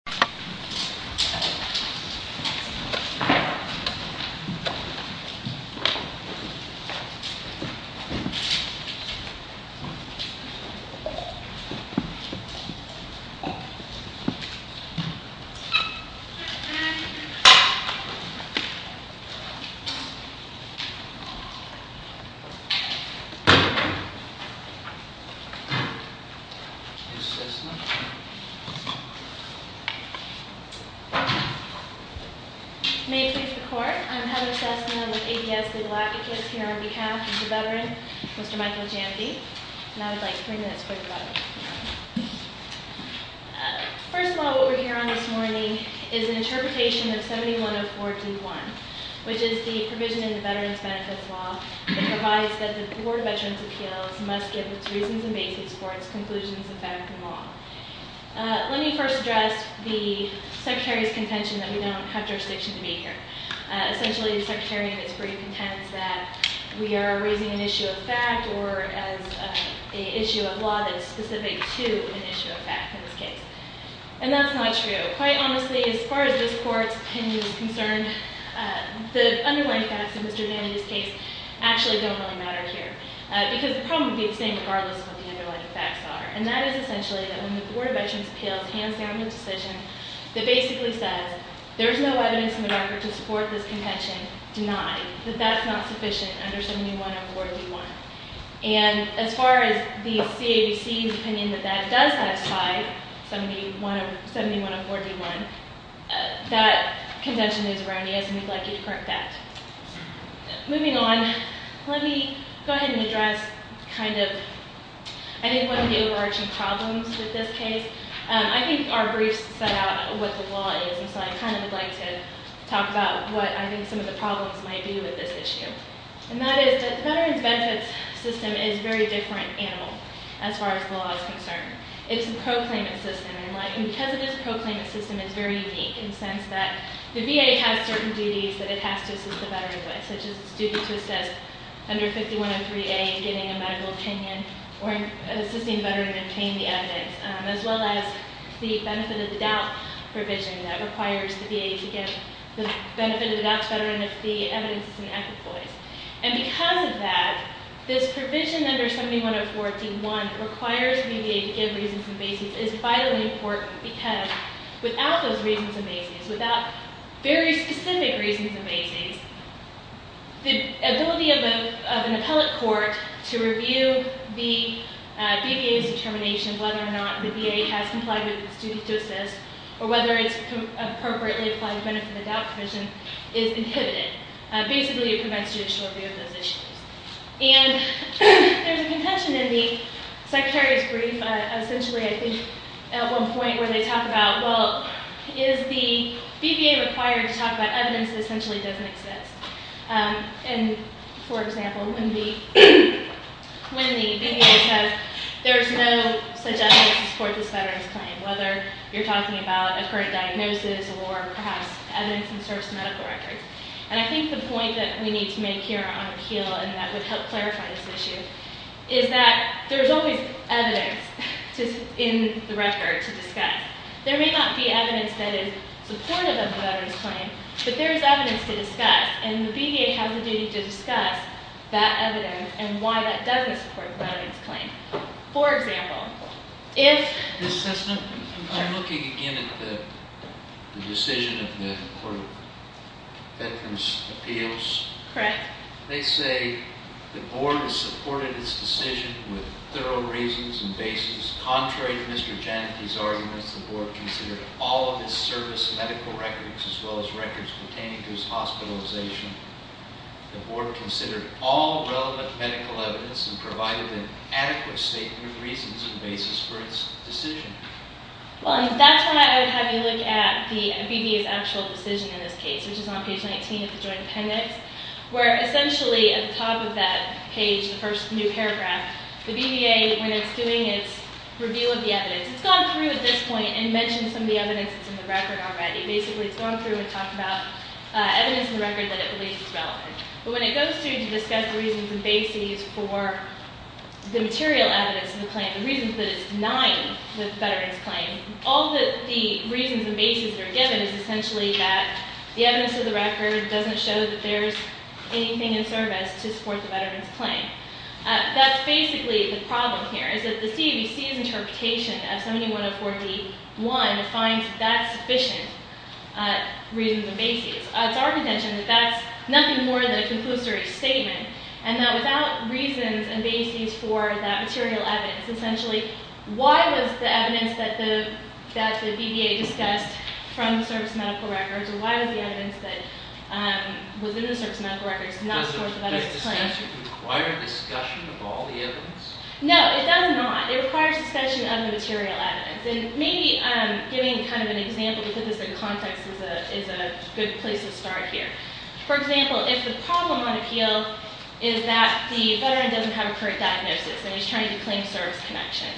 NON VERBAL HYPNOSIS Instant conscious Boom C that response May 6th the court, I'm Heather Cessna with APS the Galactic Kiss here on behalf of the veteran, Mr. Michael Jamby, and I would like 3 minutes for your vote. First of all, what we're here on this morning is an interpretation of 7104 D1, which is the provision in the Veterans Benefits Law that provides that the Board of Veterans' Appeals must give its reasons and basis for its conclusions of benefit law. Let me first address the Secretary's contention that we don't have jurisdiction to be here. Essentially, the Secretary is pretty content that we are raising an issue of fact or an issue of law that is specific to an issue of fact in this case. And that's not true. Quite honestly, as far as this court's opinion is concerned, the underlying facts of Mr. Jamby's case actually don't really matter here. Because the problem would be the same regardless of what the underlying facts are. And that is essentially that when the Board of Veterans' Appeals hands down the decision that basically says there's no evidence in the record to support this contention denied, that that's not sufficient under 7104 D1. And as far as the CABC's opinion that that does satisfy 7104 D1, that contention is erroneous and we'd like you to correct that. Moving on, let me go ahead and address kind of I think one of the overarching problems with this case. I think our briefs set out what the law is, and so I kind of would like to talk about what I think some of the problems might be with this issue. And that is that the Veterans Benefits System is a very different animal as far as the law is concerned. It's a proclaimant system, and because it is a proclaimant system, it's very unique in the sense that the VA has certain duties that it has to assist the veteran with, such as it's due to assist under 5103A in getting a medical opinion or assisting the veteran in obtaining the evidence, as well as the benefit of the doubt provision that requires the VA to give the benefit of the doubt to the veteran if the evidence is in equivalence. And because of that, this provision under 7104 D1 requires the VA to give reasons and basis. It's vitally important because without those reasons and basis, without very specific reasons and basis, the ability of an appellate court to review the VA's determination whether or not the VA has complied with its duty to assist or whether it's appropriately applying the benefit of the doubt provision is inhibited. Basically, it prevents judicial review of those issues. And there's a contention in the Secretary's brief, essentially, I think, at one point where they talk about, well, is the VBA required to talk about evidence that essentially doesn't exist? And, for example, when the VBA says there's no such evidence to support this veteran's claim, whether you're talking about a current diagnosis or perhaps evidence in the service medical records. And I think the point that we need to make here on appeal and that would help clarify this issue is that there's always evidence in the record to discuss. There may not be evidence that is supportive of the veteran's claim, but there is evidence to discuss. And the VBA has a duty to discuss that evidence and why that doesn't support the veteran's claim. For example, if- Ms. Cessna, I'm looking again at the decision of the Court of Veterans' Appeals. Correct. They say the Board has supported its decision with thorough reasons and basis. Contrary to Mr. Janicki's arguments, the Board considered all of its service medical records as well as records pertaining to its hospitalization. The Board considered all relevant medical evidence and provided an adequate statement of reasons and basis for its decision. Well, and that's why I would have you look at the VBA's actual decision in this case, which is on page 19 of the joint appendix, where essentially at the top of that page, the first new paragraph, the VBA, when it's doing its review of the evidence, it's gone through at this point and mentioned some of the evidence that's in the record already. Basically, it's gone through and talked about evidence in the record that it believes is relevant. But when it goes through to discuss the reasons and basis for the material evidence in the claim, the reasons that it's denying the veteran's claim, all that the reasons and basis are given is essentially that the evidence of the record doesn't show that there's anything in service to support the veteran's claim. That's basically the problem here, is that the CABC's interpretation of 7104d.1 defines that sufficient reasons and basis. It's our contention that that's nothing more than a conclusory statement and that without reasons and basis for that material evidence, essentially why was the evidence that the VBA discussed from the service medical records or why was the evidence that was in the service medical records not to support the veteran's claim? Does it require discussion of all the evidence? No, it does not. It requires discussion of the material evidence. And maybe giving kind of an example to put this in context is a good place to start here. For example, if the problem on appeal is that the veteran doesn't have a current diagnosis and he's trying to claim service connection,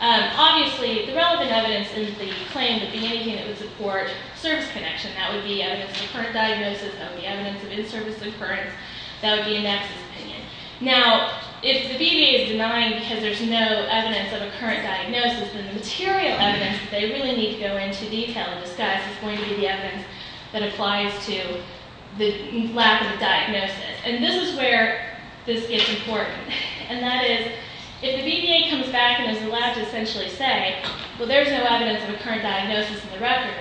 obviously the relevant evidence in the claim would be anything that would support service connection. That would be evidence of a current diagnosis, evidence of inservice occurrence. That would be a nexus opinion. Now, if the VBA is denying because there's no evidence of a current diagnosis, then the material evidence that they really need to go into detail and discuss is going to be the evidence that applies to the lack of a diagnosis. And this is where this gets important. And that is if the VBA comes back and is allowed to essentially say, well, there's no evidence of a current diagnosis in the record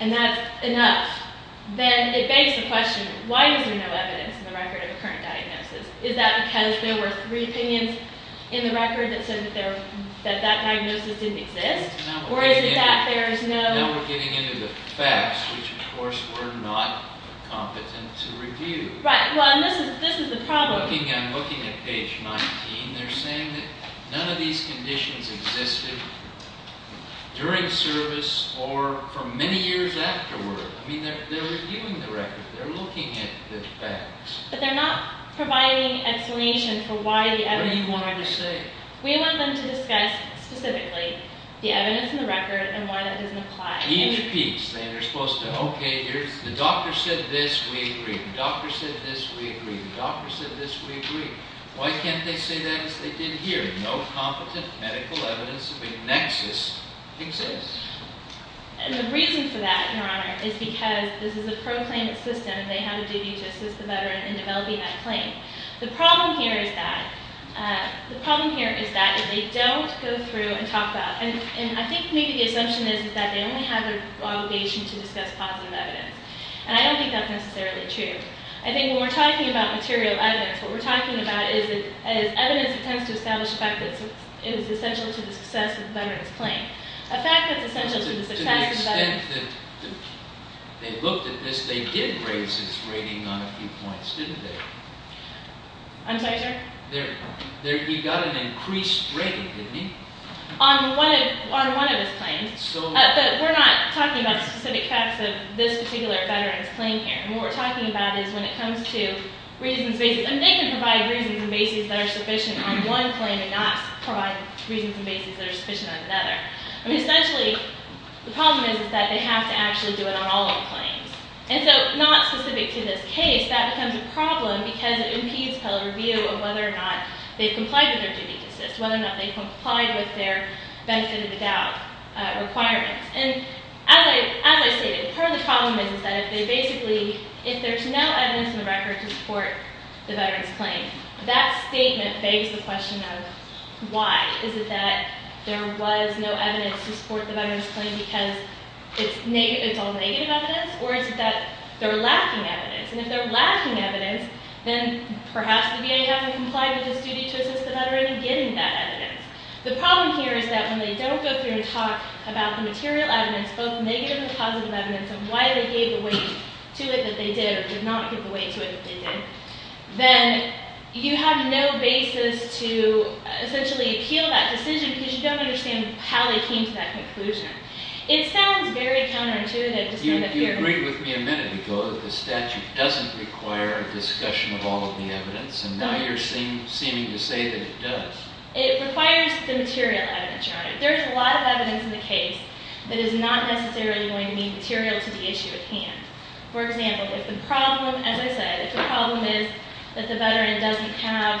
and that's enough, then it begs the question, why is there no evidence in the record of a current diagnosis? Is that because there were three opinions in the record that said that that diagnosis didn't exist? Or is it that there's no... Now we're getting into the facts, which of course we're not competent to review. Right. Well, and this is the problem. I'm looking at page 19. They're saying that none of these conditions existed during service or for many years afterward. I mean, they're reviewing the record. They're looking at the facts. But they're not providing explanation for why the evidence... What do you want them to say? We want them to discuss specifically the evidence in the record and why that doesn't apply. Each piece. They're supposed to, okay, the doctor said this, we agree. The doctor said this, we agree. The doctor said this, we agree. Why can't they say that as they did here? No competent medical evidence of a nexus exists. And the reason for that, Your Honor, is because this is a proclaimed system. And they have a duty to assist the veteran in developing that claim. The problem here is that they don't go through and talk about it. And I think maybe the assumption is that they only have the obligation to discuss positive evidence. And I don't think that's necessarily true. I think when we're talking about material evidence, what we're talking about is evidence that tends to establish the fact that it is essential to the success of the veteran's claim. They looked at this. They did raise his rating on a few points, didn't they? I'm sorry, sir? He got an increased rating, didn't he? On one of his claims. But we're not talking about specific facts of this particular veteran's claim here. What we're talking about is when it comes to reasons and basis. And they can provide reasons and basis that are sufficient on one claim and not provide reasons and basis that are sufficient on another. I mean, essentially, the problem is that they have to actually do it on all of the claims. And so not specific to this case, that becomes a problem because it impedes public review of whether or not they've complied with their duty to assist, whether or not they've complied with their benefit of the doubt requirements. And as I stated, part of the problem is that if they basically, if there's no evidence in the record to support the veteran's claim, that statement begs the question of why. Is it that there was no evidence to support the veteran's claim because it's all negative evidence? Or is it that they're lacking evidence? And if they're lacking evidence, then perhaps the VA hasn't complied with its duty to assist the veteran in getting that evidence. The problem here is that when they don't go through and talk about the material evidence, both negative and positive evidence, and why they gave away to it that they did or did not give away to it that they did, then you have no basis to essentially appeal that decision because you don't understand how they came to that conclusion. It sounds very counterintuitive. You agreed with me a minute ago that the statute doesn't require a discussion of all of the evidence. And now you're seeming to say that it does. It requires the material evidence, Your Honor. There's a lot of evidence in the case that is not necessarily going to be material to the issue at hand. For example, if the problem, as I said, if the problem is that the veteran doesn't have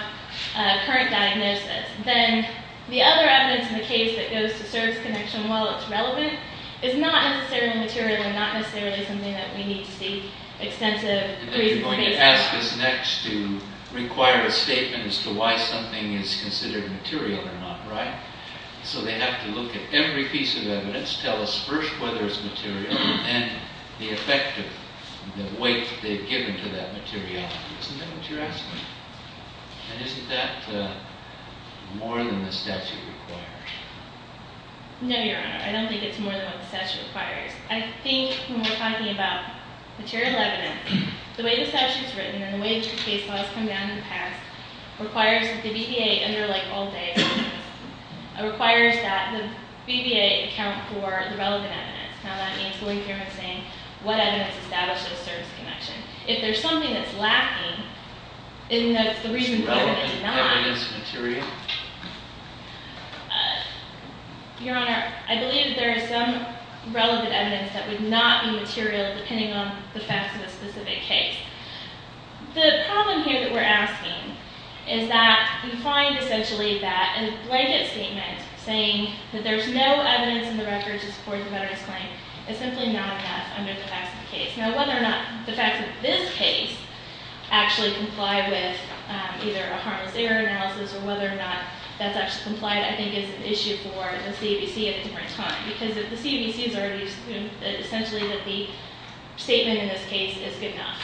a current diagnosis, then the other evidence in the case that goes to service connection, while it's relevant, is not necessarily material and not necessarily something that we need to seek extensive reasons based on. You're going to ask us next to require a statement as to why something is considered material or not, right? So they have to look at every piece of evidence, tell us first whether it's material, and the effect of the weight they've given to that material. Isn't that what you're asking? And isn't that more than the statute requires? No, Your Honor. I don't think it's more than what the statute requires. I think when we're talking about material evidence, the way the statute's written and the way that your case laws come down in the past requires that the VBA, and they're like all day, requires that the VBA account for the relevant evidence. Now, that means going through and saying what evidence establishes service connection. If there's something that's lacking, isn't that the reason why it's not? Is the relevant evidence material? Your Honor, I believe there is some relevant evidence that would not be material depending on the facts of a specific case. The problem here that we're asking is that you find essentially that a blanket statement saying that there's no evidence in the record to support the veteran's claim is simply not enough under the facts of the case. Now, whether or not the facts of this case actually comply with either a harmless error analysis or whether or not that's actually complied, I think, is an issue for the CABC at a different time because the CABC has already assumed essentially that the statement in this case is good enough.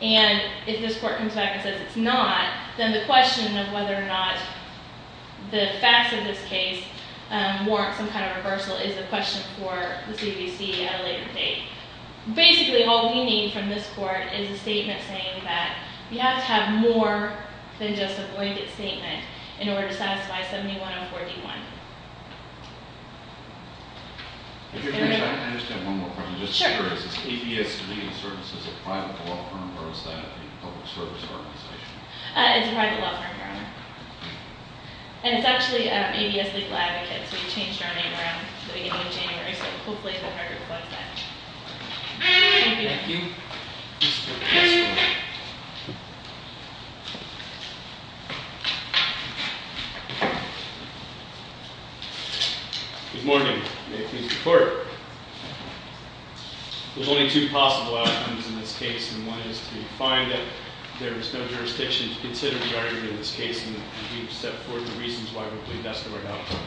And if this court comes back and says it's not, then the question of whether or not the facts of this case warrant some kind of reversal is a question for the CABC at a later date. Basically, all we need from this court is a statement saying that you have to have more than just a blanket statement in order to satisfy 7104D1. If you'll excuse me, I just have one more question. Sure. Is this ABS Legal Services a private law firm or is that a public service organization? It's a private law firm, Your Honor. And it's actually ABS Legal Advocates. We changed our name around the beginning of January, so hopefully the record reflects that. Thank you. Thank you. Next one. Good morning. May it please the Court. There's only two possible outcomes in this case, and one is to find that there is no jurisdiction to consider the argument in this case and that we've set forth the reasons why we believe that's the right outcome.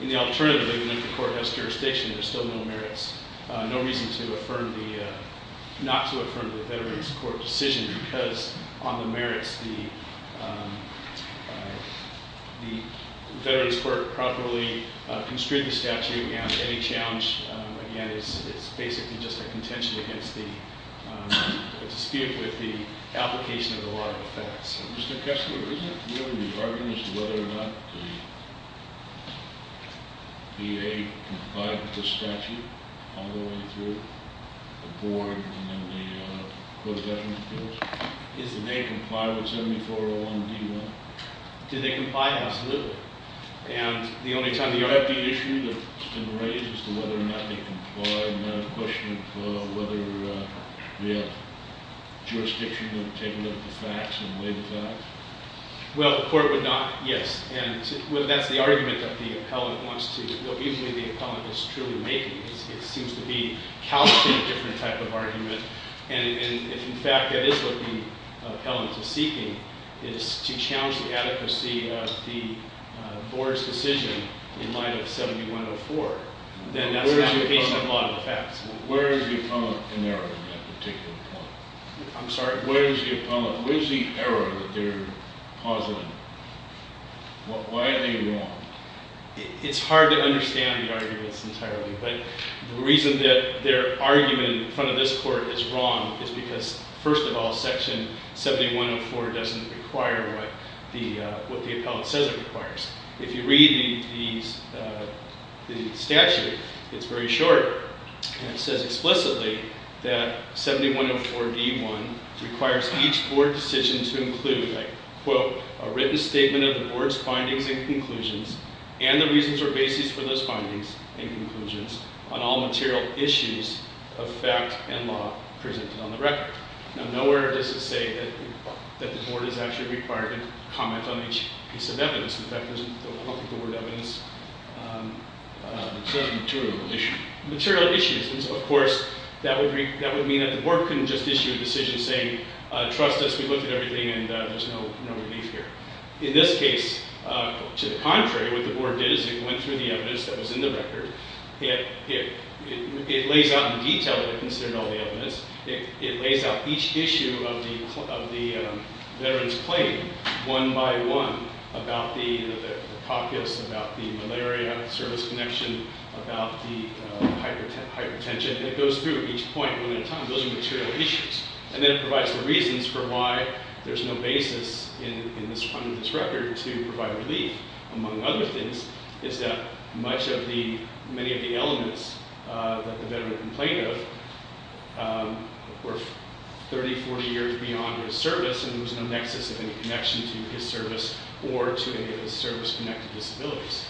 And the alternative, even if the Court has jurisdiction, there's still no merits, no reason not to affirm the Veterans Court decision because on the merits, the Veterans Court properly construed the statute, and any challenge, again, is basically just a contention against the dispute with the application of the law of effects. Mr. Kessler, isn't it really the argument as to whether or not the VA complied with the statute all the way through, the board, and then the court of Veterans Appeals? Isn't they comply with 7401D1? Do they comply? Absolutely. And the only time the- Is that the issue that's been raised as to whether or not they comply? Is that a question of whether we have jurisdiction to take a look at the facts and lay the facts? Well, the court would not, yes. And that's the argument that the appellant wants to, well, usually the appellant is truly making. It seems to be calculating a different type of argument. And if, in fact, that is what the appellant is seeking, is to challenge the adequacy of the board's decision in light of 7104, then that's an application of law of effects. Where is the appellant in error in that particular point? I'm sorry? Where is the appellant? Where is the error that they're pausing? Why are they wrong? It's hard to understand the arguments entirely, but the reason that their argument in front of this court is wrong is because, first of all, Section 7104 doesn't require what the appellant says it requires. If you read the statute, it's very short, and it says explicitly that 7104d.1 requires each board decision to include, I quote, a written statement of the board's findings and conclusions and the reasons or basis for those findings and conclusions on all material issues of fact and law presented on the record. Now, nowhere does it say that the board is actually required to comment on each piece of evidence. In fact, it doesn't look at the word evidence. It says material issues. Material issues. Of course, that would mean that the board couldn't just issue a decision saying, trust us, we looked at everything, and there's no relief here. In this case, to the contrary, what the board did is it went through the evidence that was in the record. It lays out in detail what it considered all the evidence. It lays out each issue of the veteran's claim one by one about the caucus, about the malaria service connection, about the hypertension. It goes through each point one at a time. Those are material issues. And then it provides the reasons for why there's no basis in this record to provide relief. Among other things is that many of the elements that the veteran complained of were 30, 40 years beyond his service, and there was no nexus of any connection to his service or to any of his service-connected disabilities.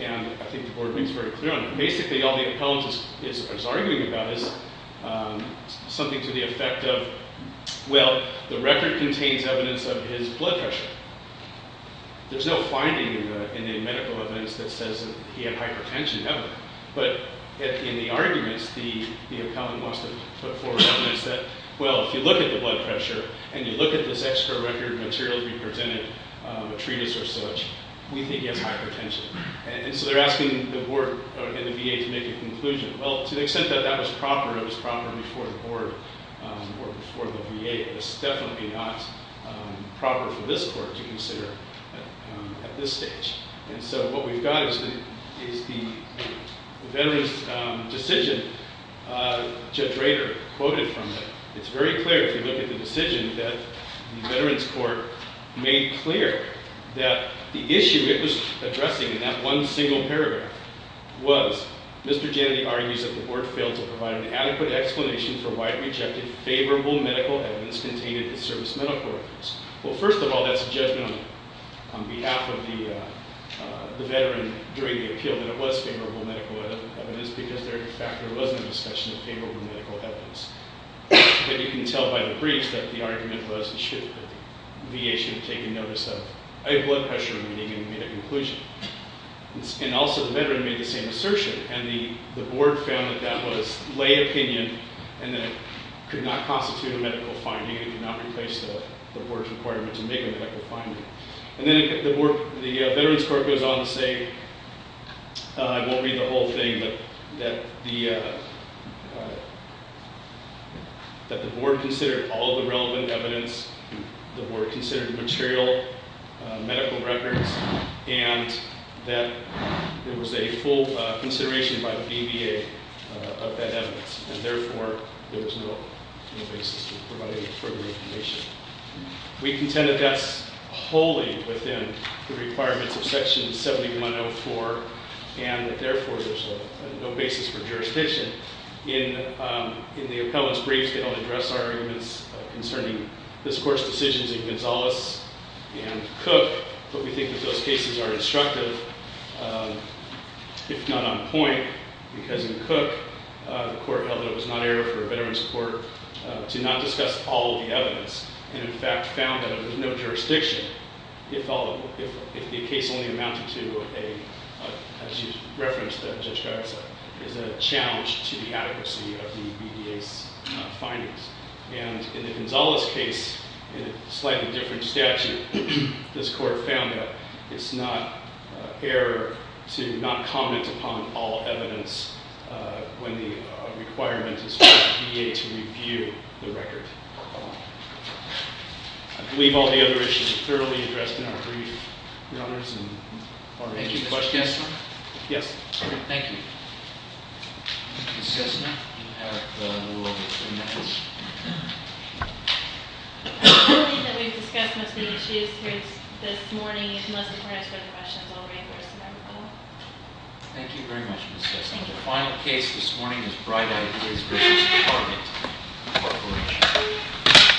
And I think the board makes very clear on that. Basically, all the appellant is arguing about is something to the effect of, well, the record contains evidence of his blood pressure. There's no finding in the medical evidence that says that he had hypertension, ever. But in the arguments, the appellant wants to put forward evidence that, well, if you look at the blood pressure and you look at this extra record materially represented, a treatise or such, we think he has hypertension. And so they're asking the board and the VA to make a conclusion. Well, to the extent that that was proper, it was proper before the board or before the VA. It was definitely not proper for this court to consider at this stage. And so what we've got is the veteran's decision. Judge Rader quoted from it. It's very clear, if you look at the decision, that the veteran's court made clear that the issue it was addressing in that one single paragraph was, Mr. Jannetty argues that the board failed to provide an adequate explanation for why it rejected favorable medical evidence contained in the service medical records. Well, first of all, that's a judgment on behalf of the veteran during the appeal, that it was favorable medical evidence, because there, in fact, there was no discussion of favorable medical evidence. And you can tell by the briefs that the argument was that the VA should have taken notice of a blood pressure reading and made a conclusion. And also the veteran made the same assertion. And the board found that that was lay opinion and that it could not constitute a medical finding. It did not replace the board's requirement to make a medical finding. And then the veteran's court goes on to say, I won't read the whole thing, but that the board considered all of the relevant evidence, the board considered the material medical records, and that there was a full consideration by the BVA of that evidence. And therefore, there was no basis for providing further information. We contend that that's wholly within the requirements of Section 7104, and that therefore there's no basis for jurisdiction. In the appellant's briefs, they don't address our arguments concerning this court's decisions in Gonzales and Cook, but we think that those cases are instructive, if not on point, because in Cook, the court held that it was not error for a veteran's court to not discuss all of the evidence, and in fact found that there was no jurisdiction if the case only amounted to, as you referenced, that Judge Garza is a challenge to the adequacy of the BVA's findings. And in the Gonzales case, in a slightly different statute, this court found that it's not error to not comment upon all evidence when the requirement is for the BVA to review the record. I believe all the other issues are thoroughly addressed in our brief. Your Honors, and are there any questions? Thank you, Mr. Kessler. Yes? Thank you. Ms. Kessler, you have a little over three minutes. I believe that we've discussed most of the issues here this morning. If you'd like to ask further questions, I'll bring the rest of them up. Thank you very much, Ms. Kessler. The final case this morning is Bright Ideas v. Target Corporation.